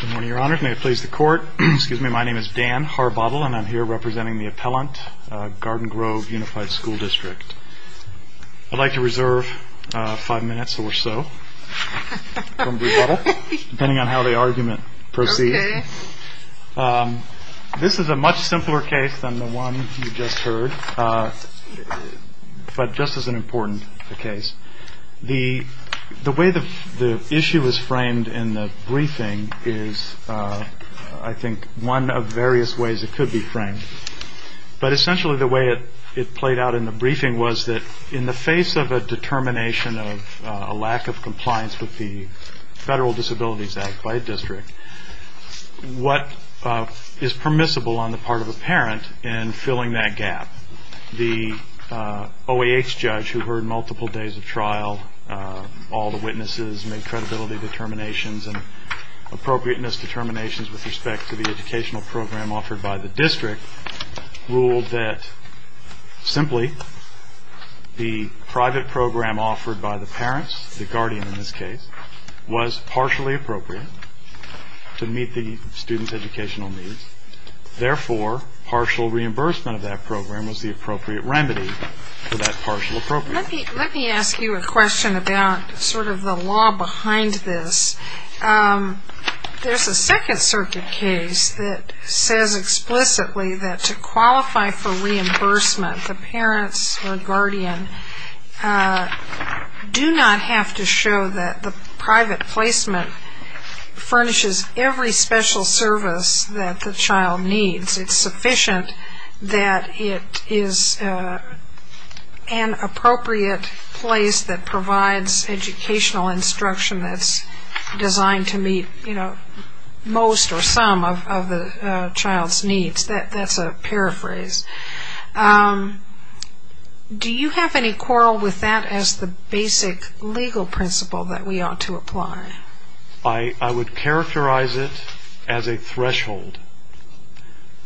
Good morning, Your Honor. May it please the Court, excuse me, my name is Dan Harbottle and I'm here representing the appellant, Garden Grove Unified School District. I'd like to reserve five minutes or so, depending on how the argument proceeds. This is a much simpler case than the one you just heard, but just as an important case. The way the issue is framed in the briefing is, I think, one of various ways it could be framed. But essentially the way it played out in the briefing was that in the face of a determination of a lack of compliance with the Federal Disabilities Act by a district, what is permissible on the part of a parent in filling that gap, the OAH judge who heard multiple days of trial, all the witnesses made credibility determinations and appropriateness determinations with respect to the educational program offered by the district, ruled that simply the private program offered by the parents, the guardian in this case, was partially appropriate to meet the student's educational needs. Therefore, partial reimbursement of that program was the appropriate remedy for that partial appropriateness. Let me ask you a question about sort of the law behind this. There's a Second Circuit case that says explicitly that to qualify for reimbursement, the parents or guardian do not have to show that the private placement furnishes every special service that the child needs. It's sufficient that it is an appropriate place that provides educational instruction that's designed to meet most or some of the child's needs. That's a paraphrase. Do you have any quarrel with that as the basic legal principle that we ought to apply? I would characterize it as a threshold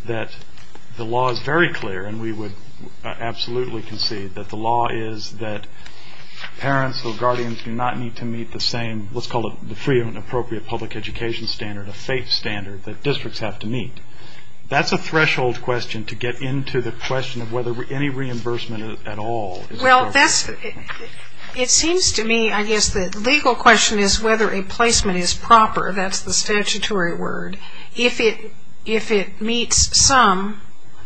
that the law is very clear, and we would absolutely concede that the law is that parents or guardians do not need to meet the same, what's called the free and appropriate public education standard, a FATE standard that districts have to meet. That's a threshold question to get into the question of whether any reimbursement at all. Well, it seems to me I guess the legal question is whether a placement is proper, that's the statutory word, if it meets some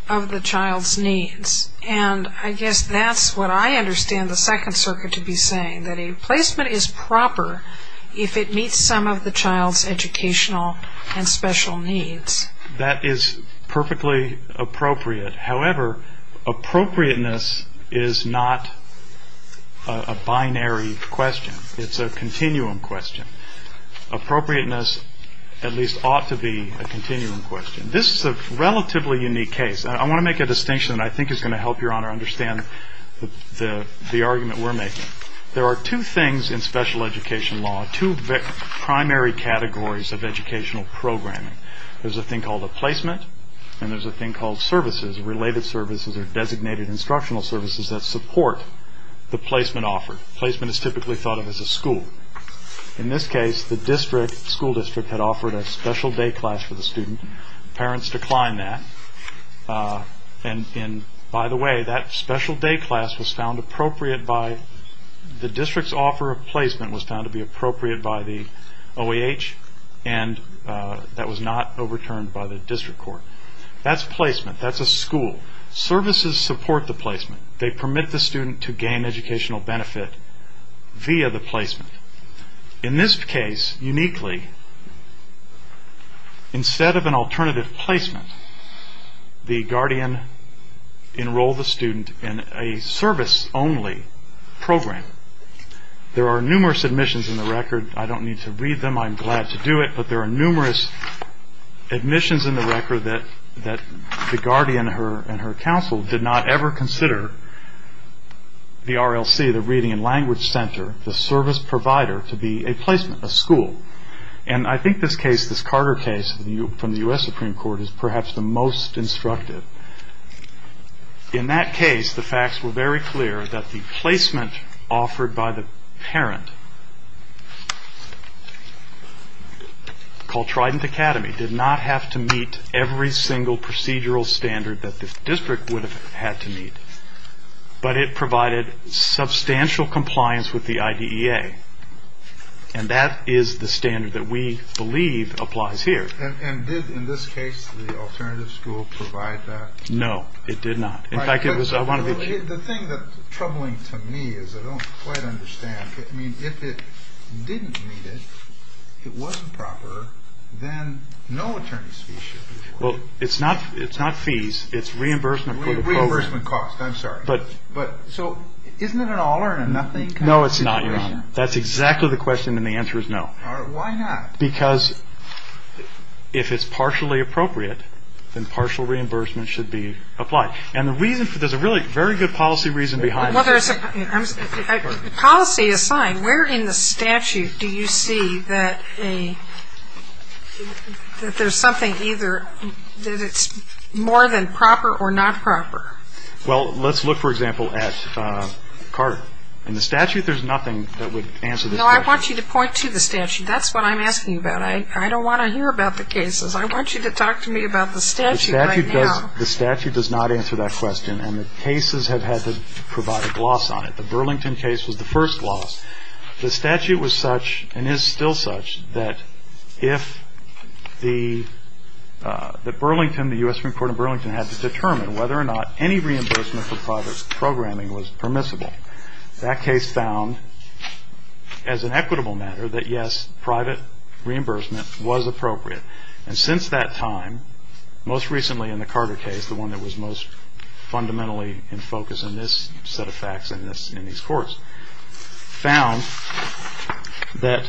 of the child's needs. And I guess that's what I understand the Second Circuit to be saying, that a placement is proper if it meets some of the child's educational and special needs. That is perfectly appropriate. However, appropriateness is not a binary question. It's a continuum question. Appropriateness at least ought to be a continuum question. This is a relatively unique case. I want to make a distinction that I think is going to help Your Honor understand the argument we're making. There are two things in special education law, two primary categories of educational programming. There's a thing called a placement and there's a thing called services, related services or designated instructional services that support the placement offered. Placement is typically thought of as a school. In this case, the school district had offered a special day class for the student. Parents declined that. And by the way, that special day class was found appropriate by the district's offer of placement was found to be appropriate by the OAH and that was not overturned by the district court. That's placement. That's a school. Services support the placement. They permit the student to gain educational benefit via the placement. In this case, uniquely, instead of an alternative placement, the guardian enrolled the student in a service-only program. There are numerous admissions in the record. I don't need to read them, I'm glad to do it, but there are numerous admissions in the record that the guardian and her counsel did not ever consider the RLC, the Reading and Language Center, the service provider, to be a placement, a school. And I think this case, this Carter case from the U.S. Supreme Court, is perhaps the most instructive. In that case, the facts were very clear that the placement offered by the parent called Trident Academy did not have to meet every single procedural standard that the district would have had to meet, but it provided substantial compliance with the IDEA. And that is the standard that we believe applies here. And did, in this case, the alternative school provide that? No, it did not. The thing that's troubling to me is I don't quite understand. I mean, if it didn't meet it, it wasn't proper, then no attorney's fee should be afforded. Well, it's not fees, it's reimbursement for the program. Reimbursement cost, I'm sorry. So isn't it an all or nothing kind of situation? No, it's not, Your Honor. That's exactly the question, and the answer is no. Why not? Because if it's partially appropriate, then partial reimbursement should be applied. And there's a really very good policy reason behind it. Policy aside, where in the statute do you see that there's something either that it's more than proper or not proper? Well, let's look, for example, at Carter. In the statute, there's nothing that would answer this question. No, I want you to point to the statute. That's what I'm asking about. I don't want to hear about the cases. I want you to talk to me about the statute right now. The statute does not answer that question, and the cases have had to provide a gloss on it. The Burlington case was the first loss. The statute was such and is still such that if the Burlington, the U.S. Supreme Court in Burlington, had to determine whether or not any reimbursement for private programming was permissible, that case found, as an equitable matter, that yes, private reimbursement was appropriate. And since that time, most recently in the Carter case, the one that was most fundamentally in focus in this set of facts and in these courts, found that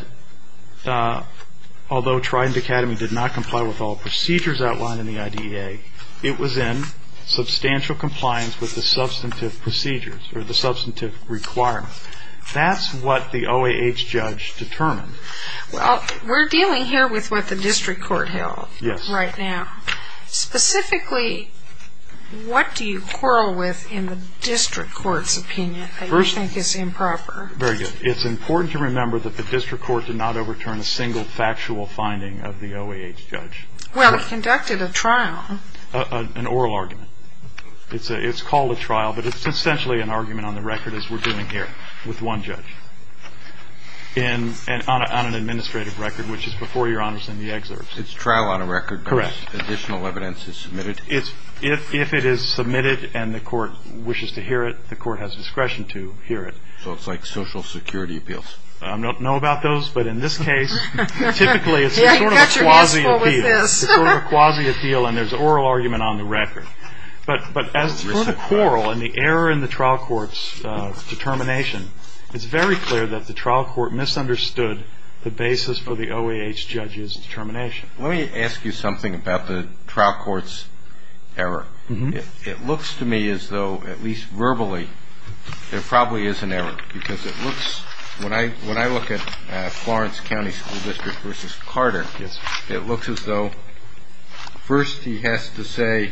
although Trident Academy did not comply with all procedures outlined in the IDEA, it was in substantial compliance with the substantive procedures or the substantive requirements. That's what the OAH judge determined. Well, we're dealing here with what the district court held right now. Specifically, what do you quarrel with in the district court's opinion that you think is improper? Very good. It's important to remember that the district court did not overturn a single factual finding of the OAH judge. Well, it conducted a trial. An oral argument. It's called a trial, but it's essentially an argument on the record, as we're doing here with one judge. And on an administrative record, which is before Your Honors in the excerpts. It's a trial on a record because additional evidence is submitted. Correct. If it is submitted and the court wishes to hear it, the court has discretion to hear it. So it's like social security appeals. I don't know about those, but in this case, typically it's sort of a quasi-appeal. What was this? It's sort of a quasi-appeal, and there's an oral argument on the record. But as for the quarrel and the error in the trial court's determination, it's very clear that the trial court misunderstood the basis for the OAH judge's determination. Let me ask you something about the trial court's error. It looks to me as though, at least verbally, there probably is an error. Because when I look at Florence County School District v. Carter, it looks as though first he has to say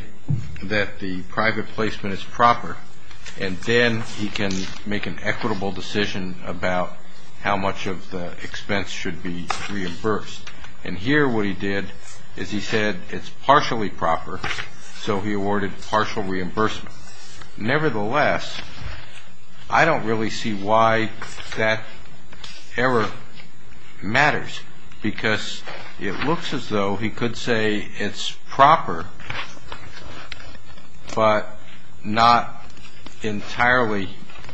that the private placement is proper, and then he can make an equitable decision about how much of the expense should be reimbursed. And here what he did is he said it's partially proper, so he awarded partial reimbursement. Nevertheless, I don't really see why that error matters, because it looks as though he could say it's proper, but not entirely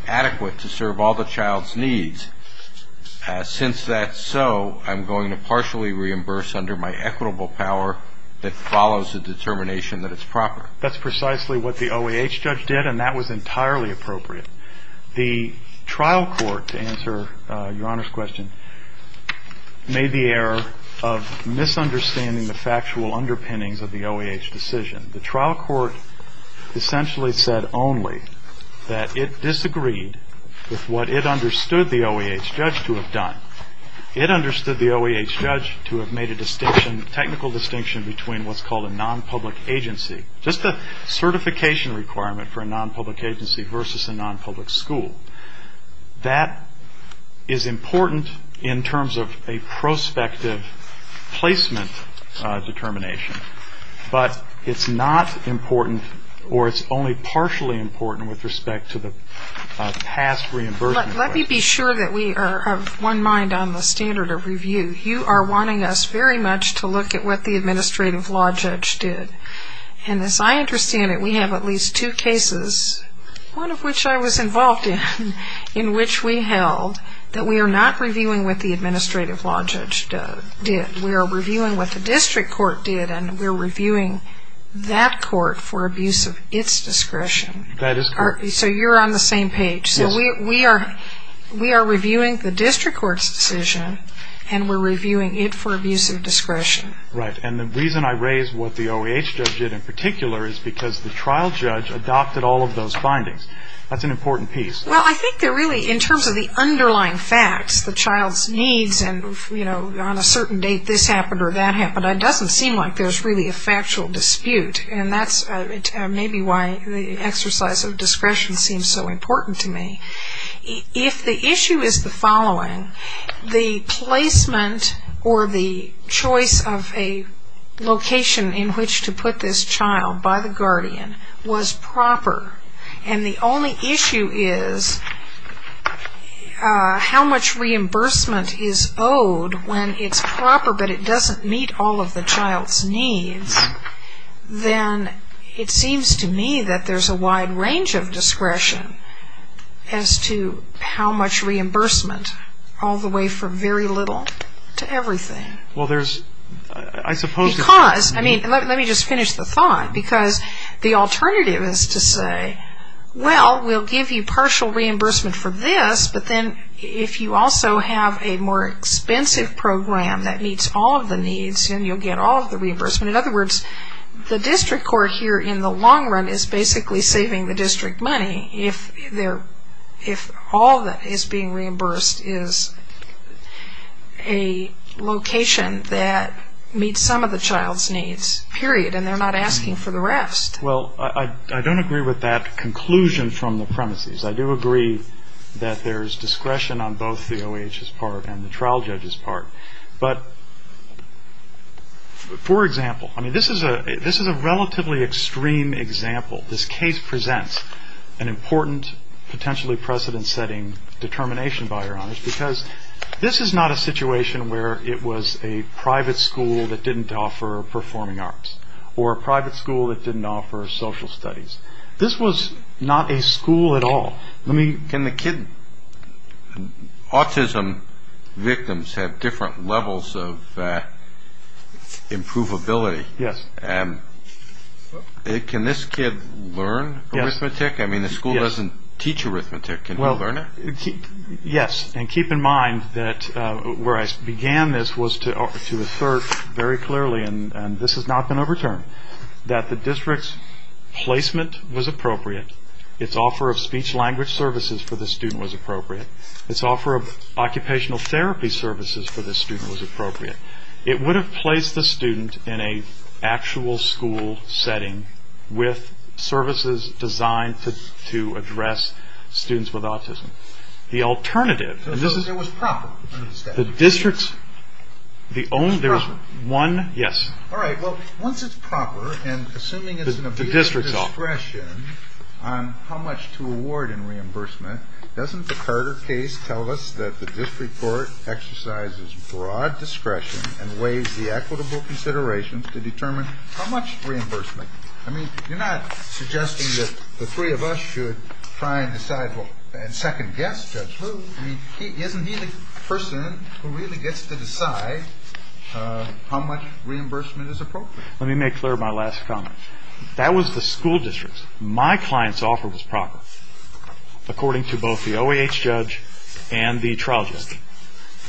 adequate to serve all the child's needs. Since that's so, I'm going to partially reimburse under my equitable power that follows the determination that it's proper. That's precisely what the OAH judge did, and that was entirely appropriate. The trial court, to answer Your Honor's question, made the error of misunderstanding the factual underpinnings of the OAH decision. The trial court essentially said only that it disagreed with what it understood the OAH judge to have done. It understood the OAH judge to have made a distinction, a technical distinction between what's called a non-public agency, just a certification requirement for a non-public agency versus a non-public school. That is important in terms of a prospective placement determination, but it's not important or it's only partially important with respect to the past reimbursement. Let me be sure that we are of one mind on the standard of review. You are wanting us very much to look at what the administrative law judge did. And as I understand it, we have at least two cases, one of which I was involved in, in which we held that we are not reviewing what the administrative law judge did. We are reviewing what the district court did, and we're reviewing that court for abuse of its discretion. That is correct. So you're on the same page. So we are reviewing the district court's decision, and we're reviewing it for abuse of discretion. Right. And the reason I raise what the OAH judge did in particular is because the trial judge adopted all of those findings. That's an important piece. Well, I think that really in terms of the underlying facts, the child's needs, and on a certain date this happened or that happened, it doesn't seem like there's really a factual dispute. And that's maybe why the exercise of discretion seems so important to me. If the issue is the following, the placement or the choice of a location in which to put this child by the guardian was proper, and the only issue is how much reimbursement is owed when it's proper but it doesn't meet all of the child's needs, then it seems to me that there's a wide range of discretion as to how much reimbursement, all the way from very little to everything. Well, there's, I suppose there's... Because, I mean, let me just finish the thought, because the alternative is to say, well, we'll give you partial reimbursement for this, but then if you also have a more expensive program that meets all of the needs, then you'll get all of the reimbursement. In other words, the district court here in the long run is basically saving the district money if all that is being reimbursed is a location that meets some of the child's needs, period, and they're not asking for the rest. Well, I don't agree with that conclusion from the premises. I do agree that there's discretion on both the OHS part and the trial judge's part. But, for example, I mean, this is a relatively extreme example. This case presents an important, potentially precedent-setting determination, by your honors, because this is not a situation where it was a private school that didn't offer performing arts or a private school that didn't offer social studies. This was not a school at all. Can the kid autism victims have different levels of improvability? Yes. Can this kid learn arithmetic? I mean, the school doesn't teach arithmetic. Can he learn it? Yes, and keep in mind that where I began this was to assert very clearly, and this has not been overturned, that the district's placement was appropriate, its offer of speech-language services for the student was appropriate, its offer of occupational therapy services for the student was appropriate. It would have placed the student in an actual school setting with services designed to address students with autism. So it was proper? It was proper. Yes. All right, well, once it's proper, and assuming it's an appeal to discretion on how much to award in reimbursement, doesn't the Carter case tell us that the district court exercises broad discretion and weighs the equitable considerations to determine how much reimbursement? I mean, you're not suggesting that the three of us should try and decide and second-guess Judge Lew. I mean, isn't he the person who really gets to decide how much reimbursement is appropriate? Let me make clear my last comment. That was the school district's. My client's offer was proper, according to both the OAH judge and the trial judge.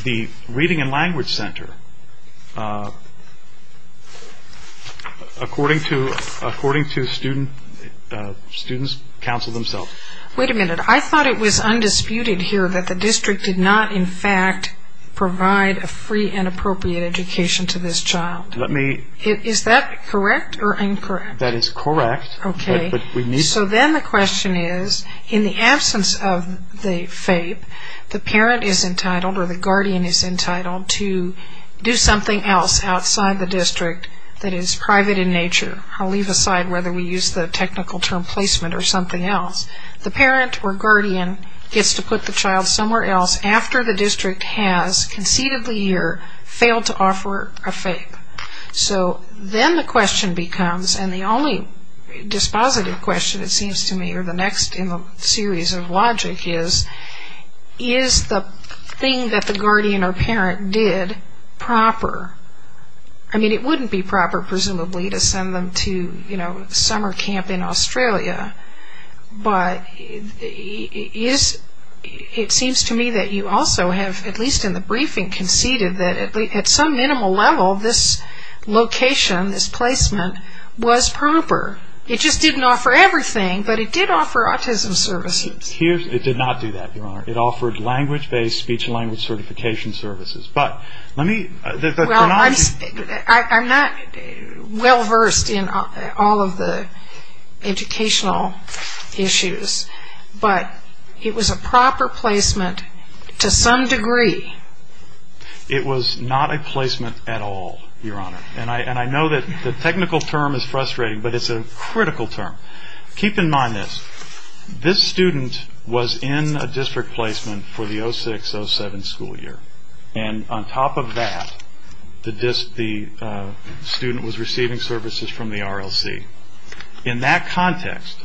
The reading and language center, according to student's counsel themselves. Wait a minute. I thought it was undisputed here that the district did not, in fact, provide a free and appropriate education to this child. Is that correct or incorrect? That is correct. So then the question is, in the absence of the FAPE, the parent is entitled or the guardian is entitled to do something else outside the district that is private in nature. I'll leave aside whether we use the technical term placement or something else. The parent or guardian gets to put the child somewhere else after the district has, conceded the year, failed to offer a FAPE. So then the question becomes, and the only dispositive question, it seems to me, or the next in the series of logic is, is the thing that the guardian or parent did proper? I mean, it wouldn't be proper, presumably, to send them to summer camp in Australia, but it seems to me that you also have, at least in the briefing, conceded that at some minimal level this location, this placement, was proper. It just didn't offer everything, but it did offer autism services. It did not do that, Your Honor. It offered language-based, speech-language certification services. But let me... Well, I'm not well versed in all of the educational issues, but it was a proper placement to some degree. It was not a placement at all, Your Honor. And I know that the technical term is frustrating, but it's a critical term. Keep in mind this. This student was in a district placement for the 06-07 school year, and on top of that the student was receiving services from the RLC. In that context...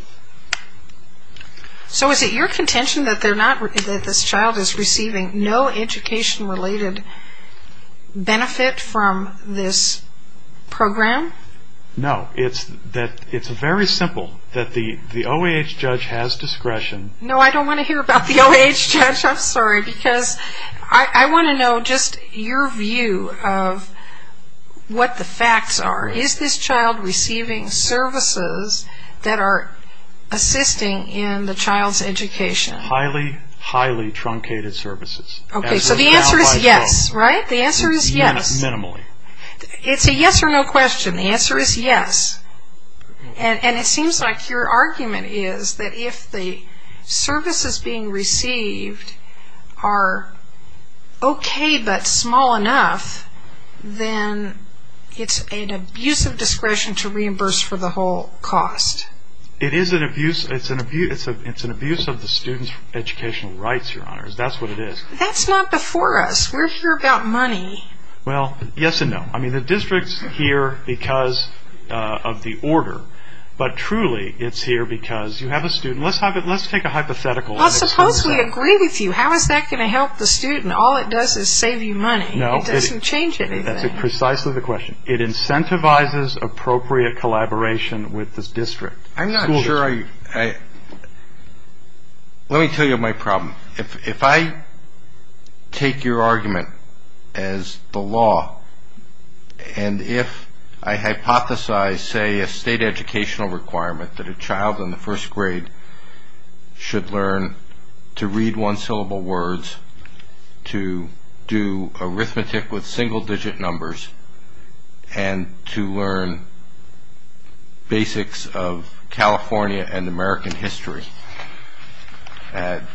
So is it your contention that this child is receiving no education-related benefit from this program? No. It's very simple, that the OAH judge has discretion... No, I don't want to hear about the OAH judge. I'm sorry, because I want to know just your view of what the facts are. Is this child receiving services that are assisting in the child's education? Highly, highly truncated services. Okay, so the answer is yes, right? The answer is yes. Minimally. It's a yes or no question. The answer is yes. And it seems like your argument is that if the services being received are okay but small enough, then it's an abuse of discretion to reimburse for the whole cost. It is an abuse. It's an abuse of the student's educational rights, Your Honor. That's what it is. That's not before us. We're here about money. Well, yes and no. I mean, the district's here because of the order, but truly it's here because you have a student. Let's take a hypothetical. Well, suppose we agree with you. How is that going to help the student? All it does is save you money. It doesn't change anything. That's precisely the question. It incentivizes appropriate collaboration with the school district. I'm not sure I – let me tell you my problem. If I take your argument as the law and if I hypothesize, say, a state educational requirement that a child in the first grade should learn to read one-syllable words, to do arithmetic with single-digit numbers, and to learn basics of California and American history, and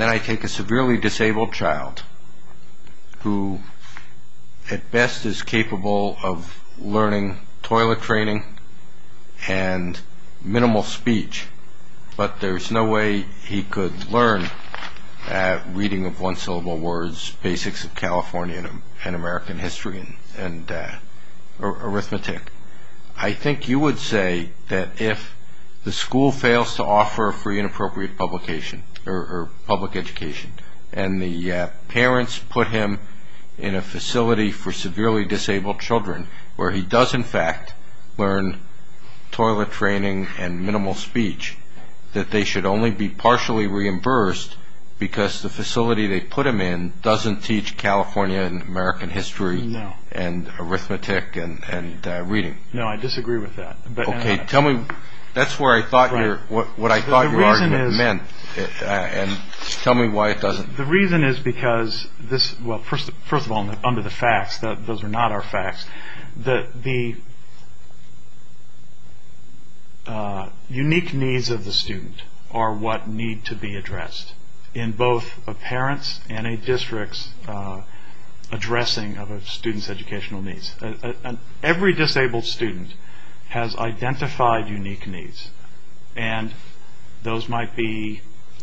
then I take a severely disabled child who at best is capable of learning toilet training and minimal speech, but there's no way he could learn reading of one-syllable words, basics of California and American history and arithmetic, I think you would say that if the school fails to offer a free and appropriate publication or public education and the parents put him in a facility for severely disabled children where he does, in fact, learn toilet training and minimal speech, that they should only be partially reimbursed because the facility they put him in doesn't teach California and American history and arithmetic and reading. No, I disagree with that. Okay, tell me – that's what I thought your argument meant, and tell me why it doesn't. The reason is because this – well, first of all, under the facts, those are not our facts, the unique needs of the student are what need to be addressed in both a parent's and a district's addressing of a student's educational needs. Every disabled student has identified unique needs, and those might be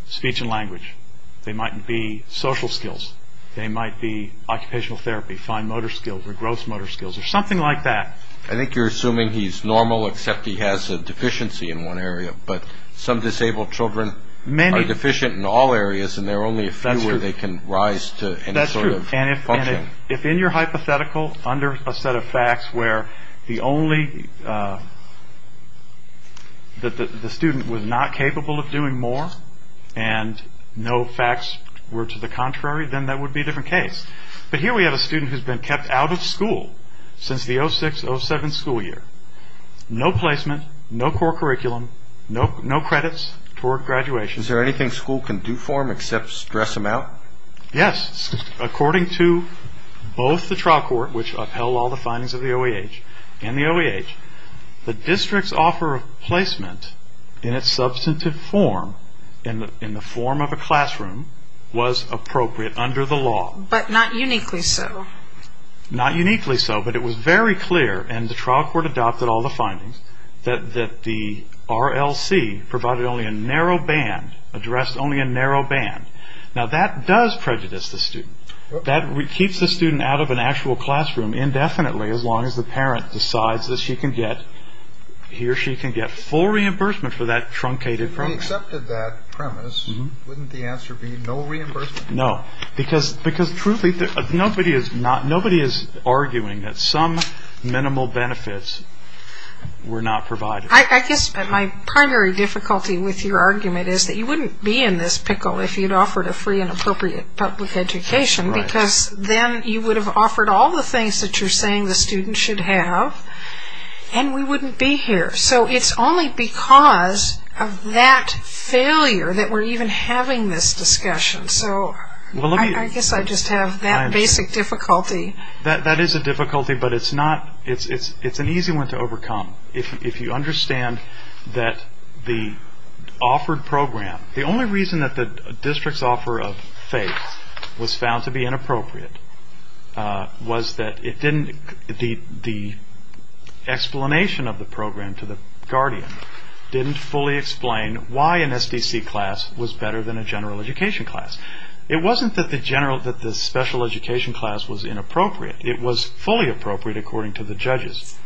speech and language, they might be social skills, they might be occupational therapy, fine motor skills or gross motor skills or something like that. I think you're assuming he's normal except he has a deficiency in one area, but some disabled children are deficient in all areas and there are only a few where they can rise to any sort of function. That's true, and if in your hypothetical under a set of facts where the only – that the student was not capable of doing more and no facts were to the contrary, then that would be a different case. But here we have a student who's been kept out of school since the 06-07 school year. No placement, no core curriculum, no credits toward graduation. Is there anything school can do for him except stress him out? Yes, according to both the trial court, which upheld all the findings of the OEH, the district's offer of placement in its substantive form, in the form of a classroom, was appropriate under the law. But not uniquely so. Not uniquely so, but it was very clear, and the trial court adopted all the findings, that the RLC provided only a narrow band, addressed only a narrow band. Now that does prejudice the student. That keeps the student out of an actual classroom indefinitely, as long as the parent decides that he or she can get full reimbursement for that truncated premise. If we accepted that premise, wouldn't the answer be no reimbursement? No, because truly nobody is arguing that some minimal benefits were not provided. I guess my primary difficulty with your argument is that you wouldn't be in this pickle if you'd offered a free and appropriate public education, because then you would have offered all the things that you're saying the student should have, and we wouldn't be here. So it's only because of that failure that we're even having this discussion. So I guess I just have that basic difficulty. That is a difficulty, but it's an easy one to overcome. If you understand that the offered program, the only reason that the district's offer of faith was found to be inappropriate was that the explanation of the program to the guardian didn't fully explain why an SDC class was better than a general education class. It wasn't that the special education class was inappropriate. It was fully appropriate according to the judges.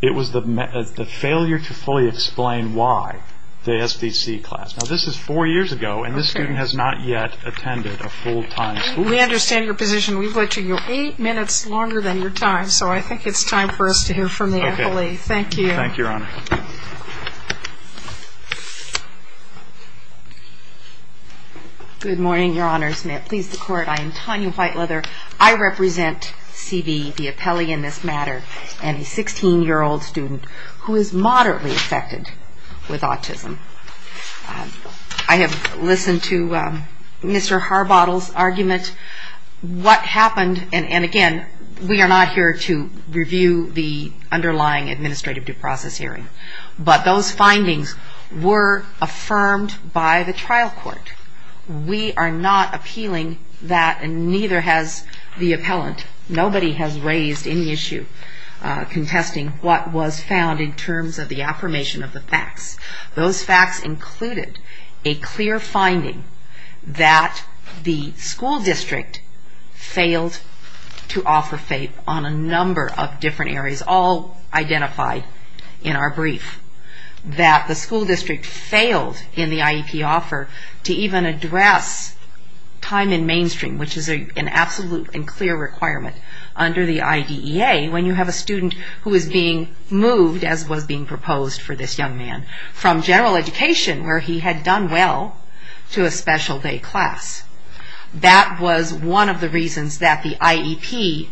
It was the failure to fully explain why the SDC class. Now, this is four years ago, and this student has not yet attended a full-time school. We understand your position. We've let you go eight minutes longer than your time, so I think it's time for us to hear from the appellee. Thank you. Thank you, Your Honor. Good morning, Your Honors. May it please the Court, I am Tanya Whiteleather. I represent CB, the appellee in this matter, and a 16-year-old student who is moderately affected with autism. I have listened to Mr. Harbottle's argument. What happened, and again, we are not here to review the underlying administrative due process hearing, but those findings were affirmed by the trial court. We are not appealing that, and neither has the appellant. Nobody has raised any issue contesting what was found in terms of the affirmation of the facts. Those facts included a clear finding that the school district failed to offer FAPE on a number of different areas, all identified in our brief, that the school district failed in the IEP offer to even address time in mainstream, which is an absolute and clear requirement under the IDEA when you have a student who is being moved, as was being proposed for this young man, from general education, where he had done well, to a special day class. That was one of the reasons that the IEP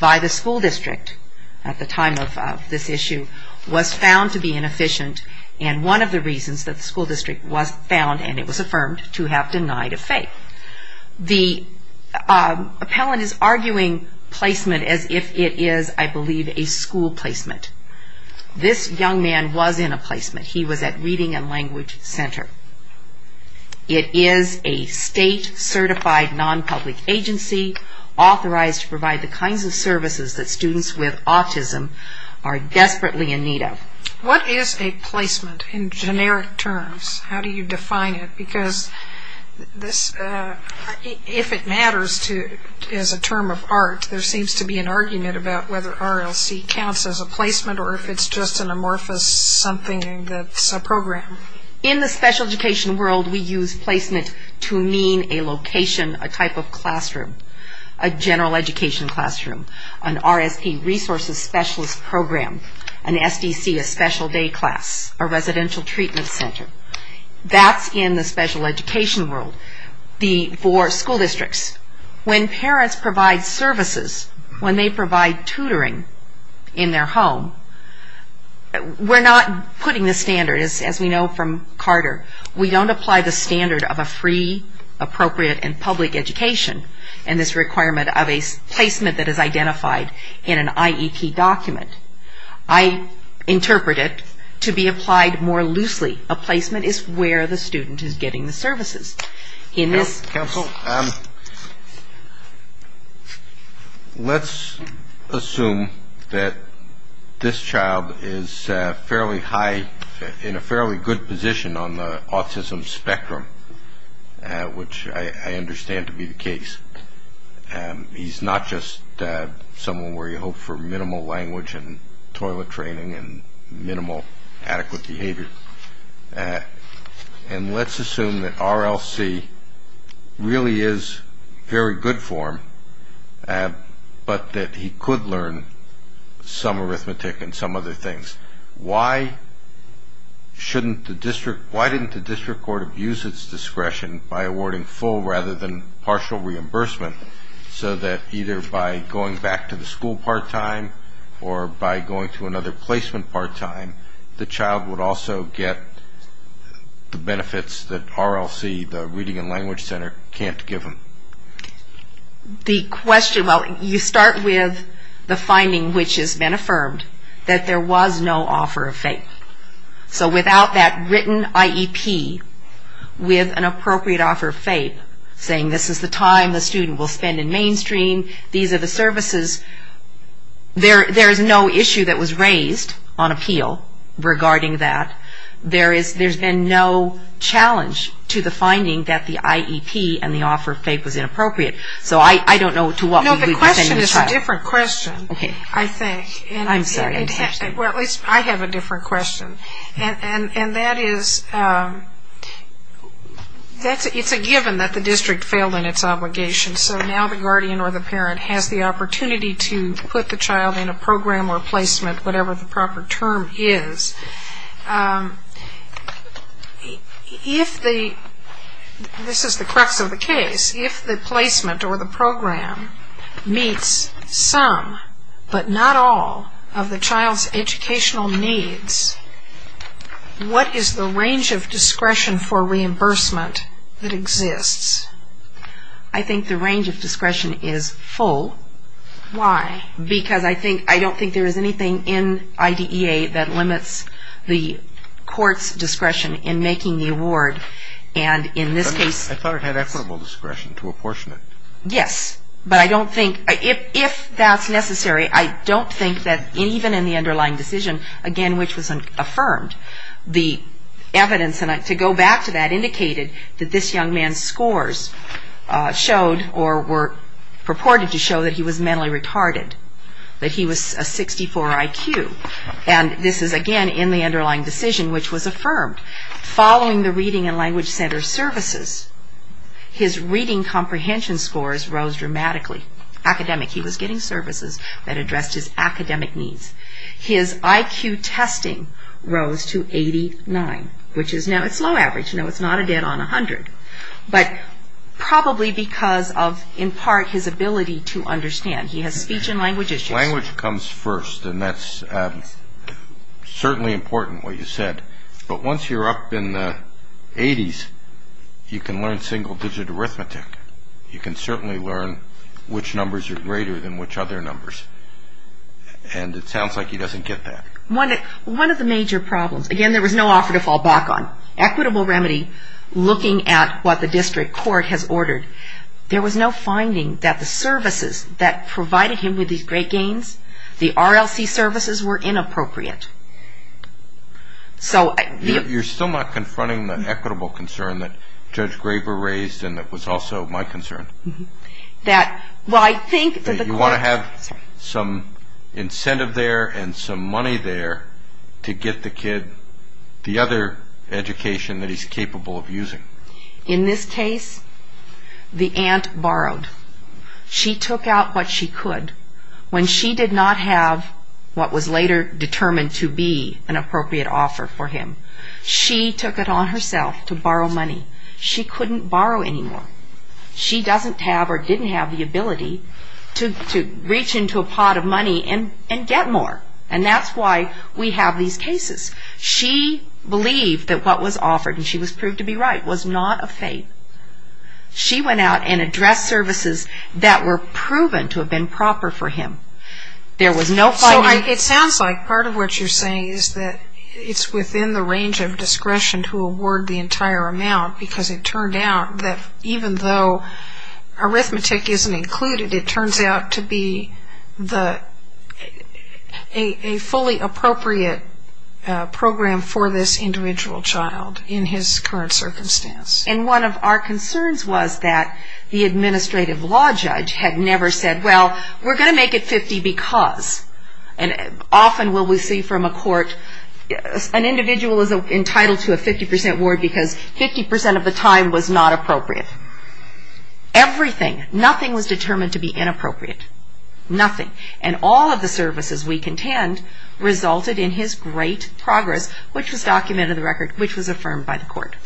by the school district at the time of this issue was found to be inefficient, and one of the reasons that the school district was found, and it was affirmed, to have denied a FAPE. The appellant is arguing placement as if it is, I believe, a school placement. This young man was in a placement. He was at Reading and Language Center. It is a state-certified non-public agency authorized to provide the kinds of services that students with autism are desperately in need of. What is a placement in generic terms? How do you define it? Because if it matters as a term of art, there seems to be an argument about whether RLC counts as a placement or if it's just an amorphous something that's a program. In the special education world, we use placement to mean a location, a type of classroom, a general education classroom, an RST resources specialist program, an SDC, a special day class, a residential treatment center. That's in the special education world. For school districts, when parents provide services, when they provide tutoring in their home, we're not putting the standard, as we know from Carter. We don't apply the standard of a free, appropriate, and public education. And this requirement of a placement that is identified in an IEP document, I interpret it to be applied more loosely. A placement is where the student is getting the services. Counsel, let's assume that this child is fairly high, in a fairly good position on the autism spectrum, which I understand to be the case. He's not just someone where you hope for minimal language and toilet training and minimal adequate behavior. And let's assume that RLC really is very good for him, but that he could learn some arithmetic and some other things. Why didn't the district court abuse its discretion by awarding full rather than partial reimbursement so that either by going back to the school part-time or by going to another placement part-time, the child would also get the benefits that RLC, the Reading and Language Center, can't give him? The question, well, you start with the finding which has been affirmed, that there was no offer of FAPE. So without that written IEP with an appropriate offer of FAPE, saying this is the time the student will spend in mainstream, these are the services, there is no issue that was raised on appeal regarding that. There's been no challenge to the finding that the IEP and the offer of FAPE was inappropriate. So I don't know to what degree we've offended the child. No, the question is a different question, I think. I'm sorry. Well, at least I have a different question. And that is, it's a given that the district failed in its obligation, so now the guardian or the parent has the opportunity to put the child in a program or placement, whatever the proper term is. If the, this is the crux of the case, if the placement or the program meets some, but not all of the child's educational needs, what is the range of discretion for reimbursement that exists? I think the range of discretion is full. Why? Because I think, I don't think there is anything in IDEA that limits the court's discretion in making the award. And in this case. I thought it had equitable discretion to apportion it. Yes. But I don't think, if that's necessary, I don't think that even in the underlying decision, again, which was affirmed, the evidence to go back to that indicated that this young man's scores showed or were purported to show that he was mentally retarded, that he was a 64 IQ. And this is, again, in the underlying decision, which was affirmed. Following the reading and language center services, his reading comprehension scores rose dramatically. Academic, he was getting services that addressed his academic needs. His IQ testing rose to 89, which is now, it's low average. No, it's not a dead on 100. But probably because of, in part, his ability to understand. He has speech and language issues. Language comes first, and that's certainly important, what you said. But once you're up in the 80s, you can learn single digit arithmetic. You can certainly learn which numbers are greater than which other numbers. And it sounds like he doesn't get that. One of the major problems, again, there was no offer to fall back on. Equitable remedy, looking at what the district court has ordered, there was no finding that the services that provided him with these great gains, the RLC services were inappropriate. You're still not confronting the equitable concern that Judge Graber raised and that was also my concern. That, well, I think that the court. You want to have some incentive there and some money there to get the kid, the other education that he's capable of using. In this case, the aunt borrowed. She took out what she could. When she did not have what was later determined to be an appropriate offer for him, she took it on herself to borrow money. She couldn't borrow anymore. She doesn't have or didn't have the ability to reach into a pot of money and get more. And that's why we have these cases. She believed that what was offered, and she was proved to be right, was not of faith. She went out and addressed services that were proven to have been proper for him. There was no finding. So it sounds like part of what you're saying is that it's within the range of discretion to award the entire amount because it turned out that even though arithmetic isn't included, it turns out to be a fully appropriate program for this individual child in his current circumstance. And one of our concerns was that the administrative law judge had never said, well, we're going to make it 50 because. And often what we see from a court, an individual is entitled to a 50% award because 50% of the time was not appropriate. Everything, nothing was determined to be inappropriate, nothing. And all of the services we contend resulted in his great progress, which was documented in the record, which was affirmed by the court.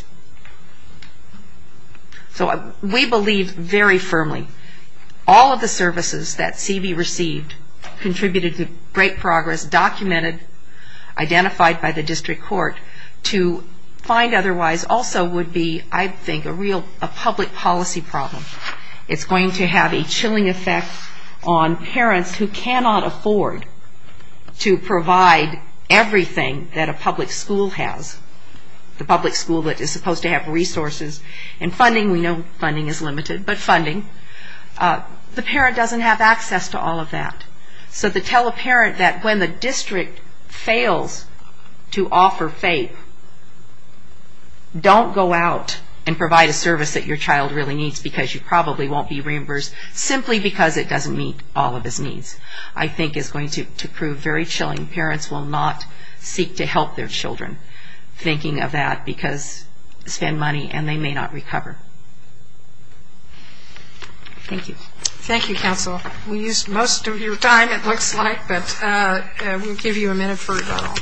So we believe very firmly all of the services that CB received contributed to great progress, documented, identified by the district court, to find otherwise also would be, I think, a real public policy problem. It's going to have a chilling effect on parents who cannot afford to provide everything that a public school has, the public school that is supposed to have resources and funding. We know funding is limited, but funding. The parent doesn't have access to all of that. So to tell a parent that when the district fails to offer FAPE, don't go out and provide a service that your child really needs because you probably won't be reimbursed simply because it doesn't meet all of his needs, I think is going to prove very chilling. Parents will not seek to help their children thinking of that because spend money and they may not recover. Thank you. Thank you, counsel. We used most of your time, it looks like, but we'll give you a minute for rebuttal.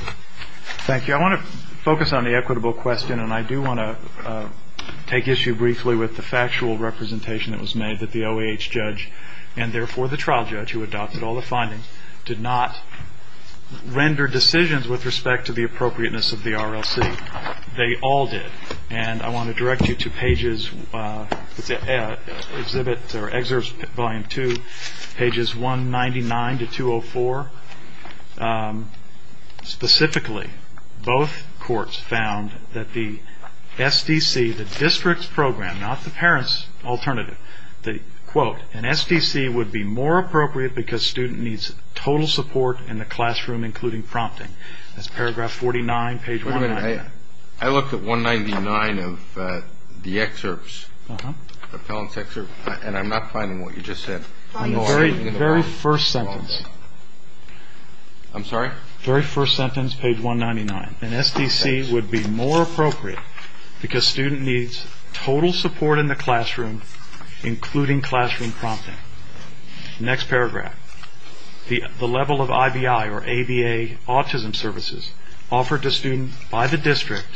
Thank you. I want to focus on the equitable question, and I do want to take issue briefly with the factual representation that was made that the OAH judge and therefore the trial judge who adopted all the findings did not render decisions with respect to the appropriateness of the RLC. They all did. And I want to direct you to pages, Excerpt Volume 2, pages 199 to 204. Specifically, both courts found that the SDC, the district's program, not the parent's alternative, the quote, an SDC would be more appropriate because student needs total support in the classroom, including prompting. That's paragraph 49, page 199. I looked at 199 of the excerpts, the appellant's excerpts, and I'm not finding what you just said. On the very first sentence. I'm sorry? Very first sentence, page 199. An SDC would be more appropriate because student needs total support in the classroom, including classroom prompting. Next paragraph. The level of IBI or ABA autism services offered to students by the district,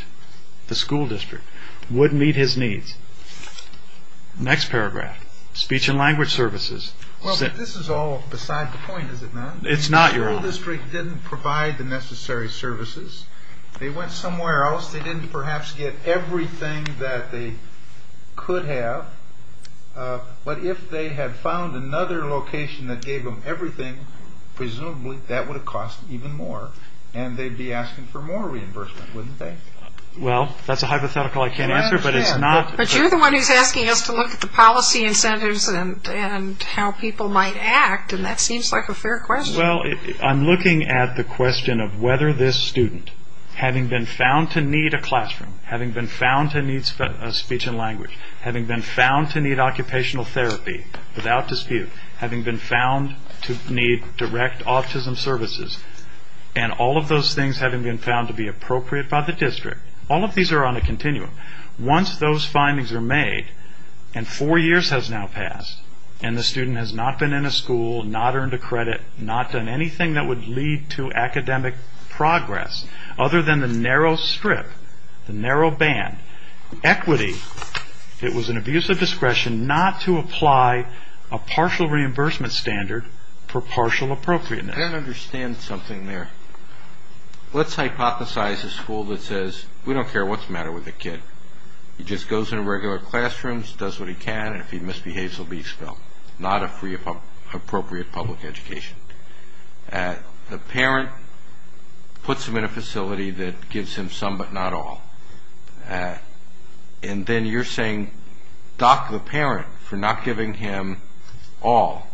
the school district, would meet his needs. Next paragraph. Speech and language services. This is all beside the point, is it not? It's not your own. The school district didn't provide the necessary services. They went somewhere else. They didn't perhaps get everything that they could have. But if they had found another location that gave them everything, presumably that would have cost even more, and they'd be asking for more reimbursement, wouldn't they? Well, that's a hypothetical I can't answer, but it's not. But you're the one who's asking us to look at the policy incentives and how people might act, and that seems like a fair question. Well, I'm looking at the question of whether this student, having been found to need a classroom, having been found to need speech and language, having been found to need occupational therapy without dispute, having been found to need direct autism services, and all of those things having been found to be appropriate by the district. All of these are on a continuum. Once those findings are made, and four years has now passed, and the student has not been in a school, not earned a credit, not done anything that would lead to academic progress, other than the narrow strip, the narrow band, equity, it was an abuse of discretion not to apply a partial reimbursement standard for partial appropriateness. I don't understand something there. Let's hypothesize a school that says, we don't care what's the matter with the kid. He just goes into regular classrooms, does what he can, and if he misbehaves, he'll be expelled. Not a free, appropriate public education. The parent puts him in a facility that gives him some but not all. And then you're saying, dock the parent for not giving him all.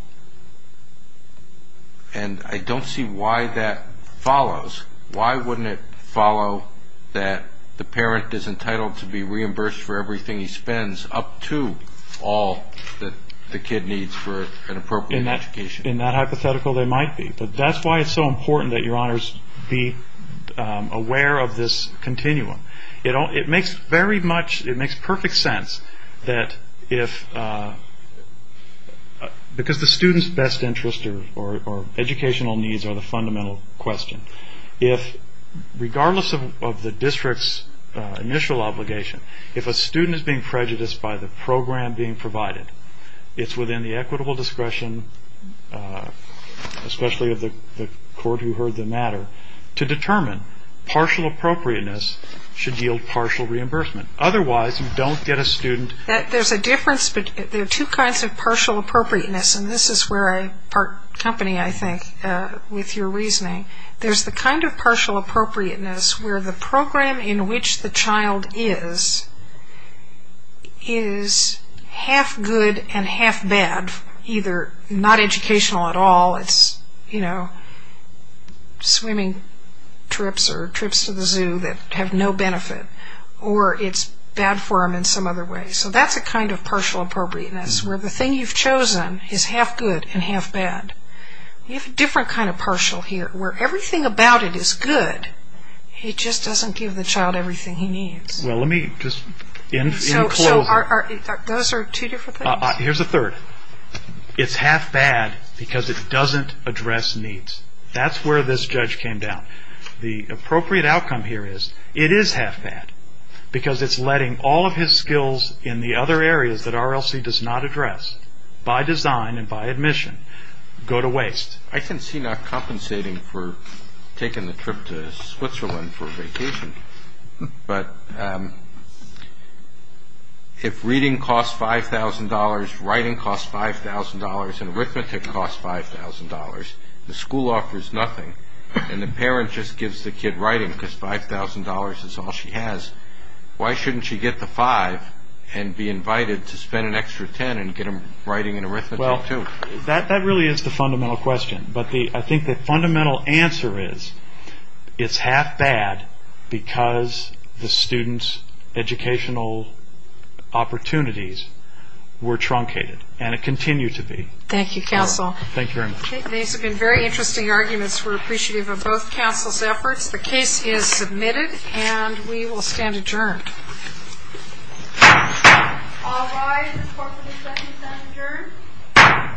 And I don't see why that follows. Why wouldn't it follow that the parent is entitled to be reimbursed for everything he spends, up to all that the kid needs for an appropriate education? In that hypothetical, they might be. But that's why it's so important that your honors be aware of this continuum. It makes very much, it makes perfect sense that if, because the student's best interest or educational needs are the fundamental question. If, regardless of the district's initial obligation, if a student is being prejudiced by the program being provided, it's within the equitable discretion, especially of the court who heard the matter, to determine partial appropriateness should yield partial reimbursement. Otherwise, you don't get a student. There's a difference between, there are two kinds of partial appropriateness, and this is where I part company, I think, with your reasoning. There's the kind of partial appropriateness where the program in which the child is, is half good and half bad, either not educational at all, it's swimming trips or trips to the zoo that have no benefit, or it's bad for them in some other way. So that's a kind of partial appropriateness, where the thing you've chosen is half good and half bad. You have a different kind of partial here, where everything about it is good, it just doesn't give the child everything he needs. Well, let me just enclose it. So those are two different things? Here's a third. It's half bad because it doesn't address needs. That's where this judge came down. The appropriate outcome here is it is half bad, because it's letting all of his skills in the other areas that RLC does not address, by design and by admission, go to waste. I can see not compensating for taking the trip to Switzerland for vacation, but if reading costs $5,000, writing costs $5,000, and arithmetic costs $5,000, the school offers nothing, and the parent just gives the kid writing, because $5,000 is all she has, why shouldn't she get the five and be invited to spend an extra $10 and get him writing and arithmetic too? That really is the fundamental question. But I think the fundamental answer is, it's half bad because the student's educational opportunities were truncated, and it continues to be. Thank you, counsel. Thank you very much. These have been very interesting arguments. We're appreciative of both counsel's efforts. The case is submitted, and we will stand adjourned. All rise. This court is expected to stand adjourned.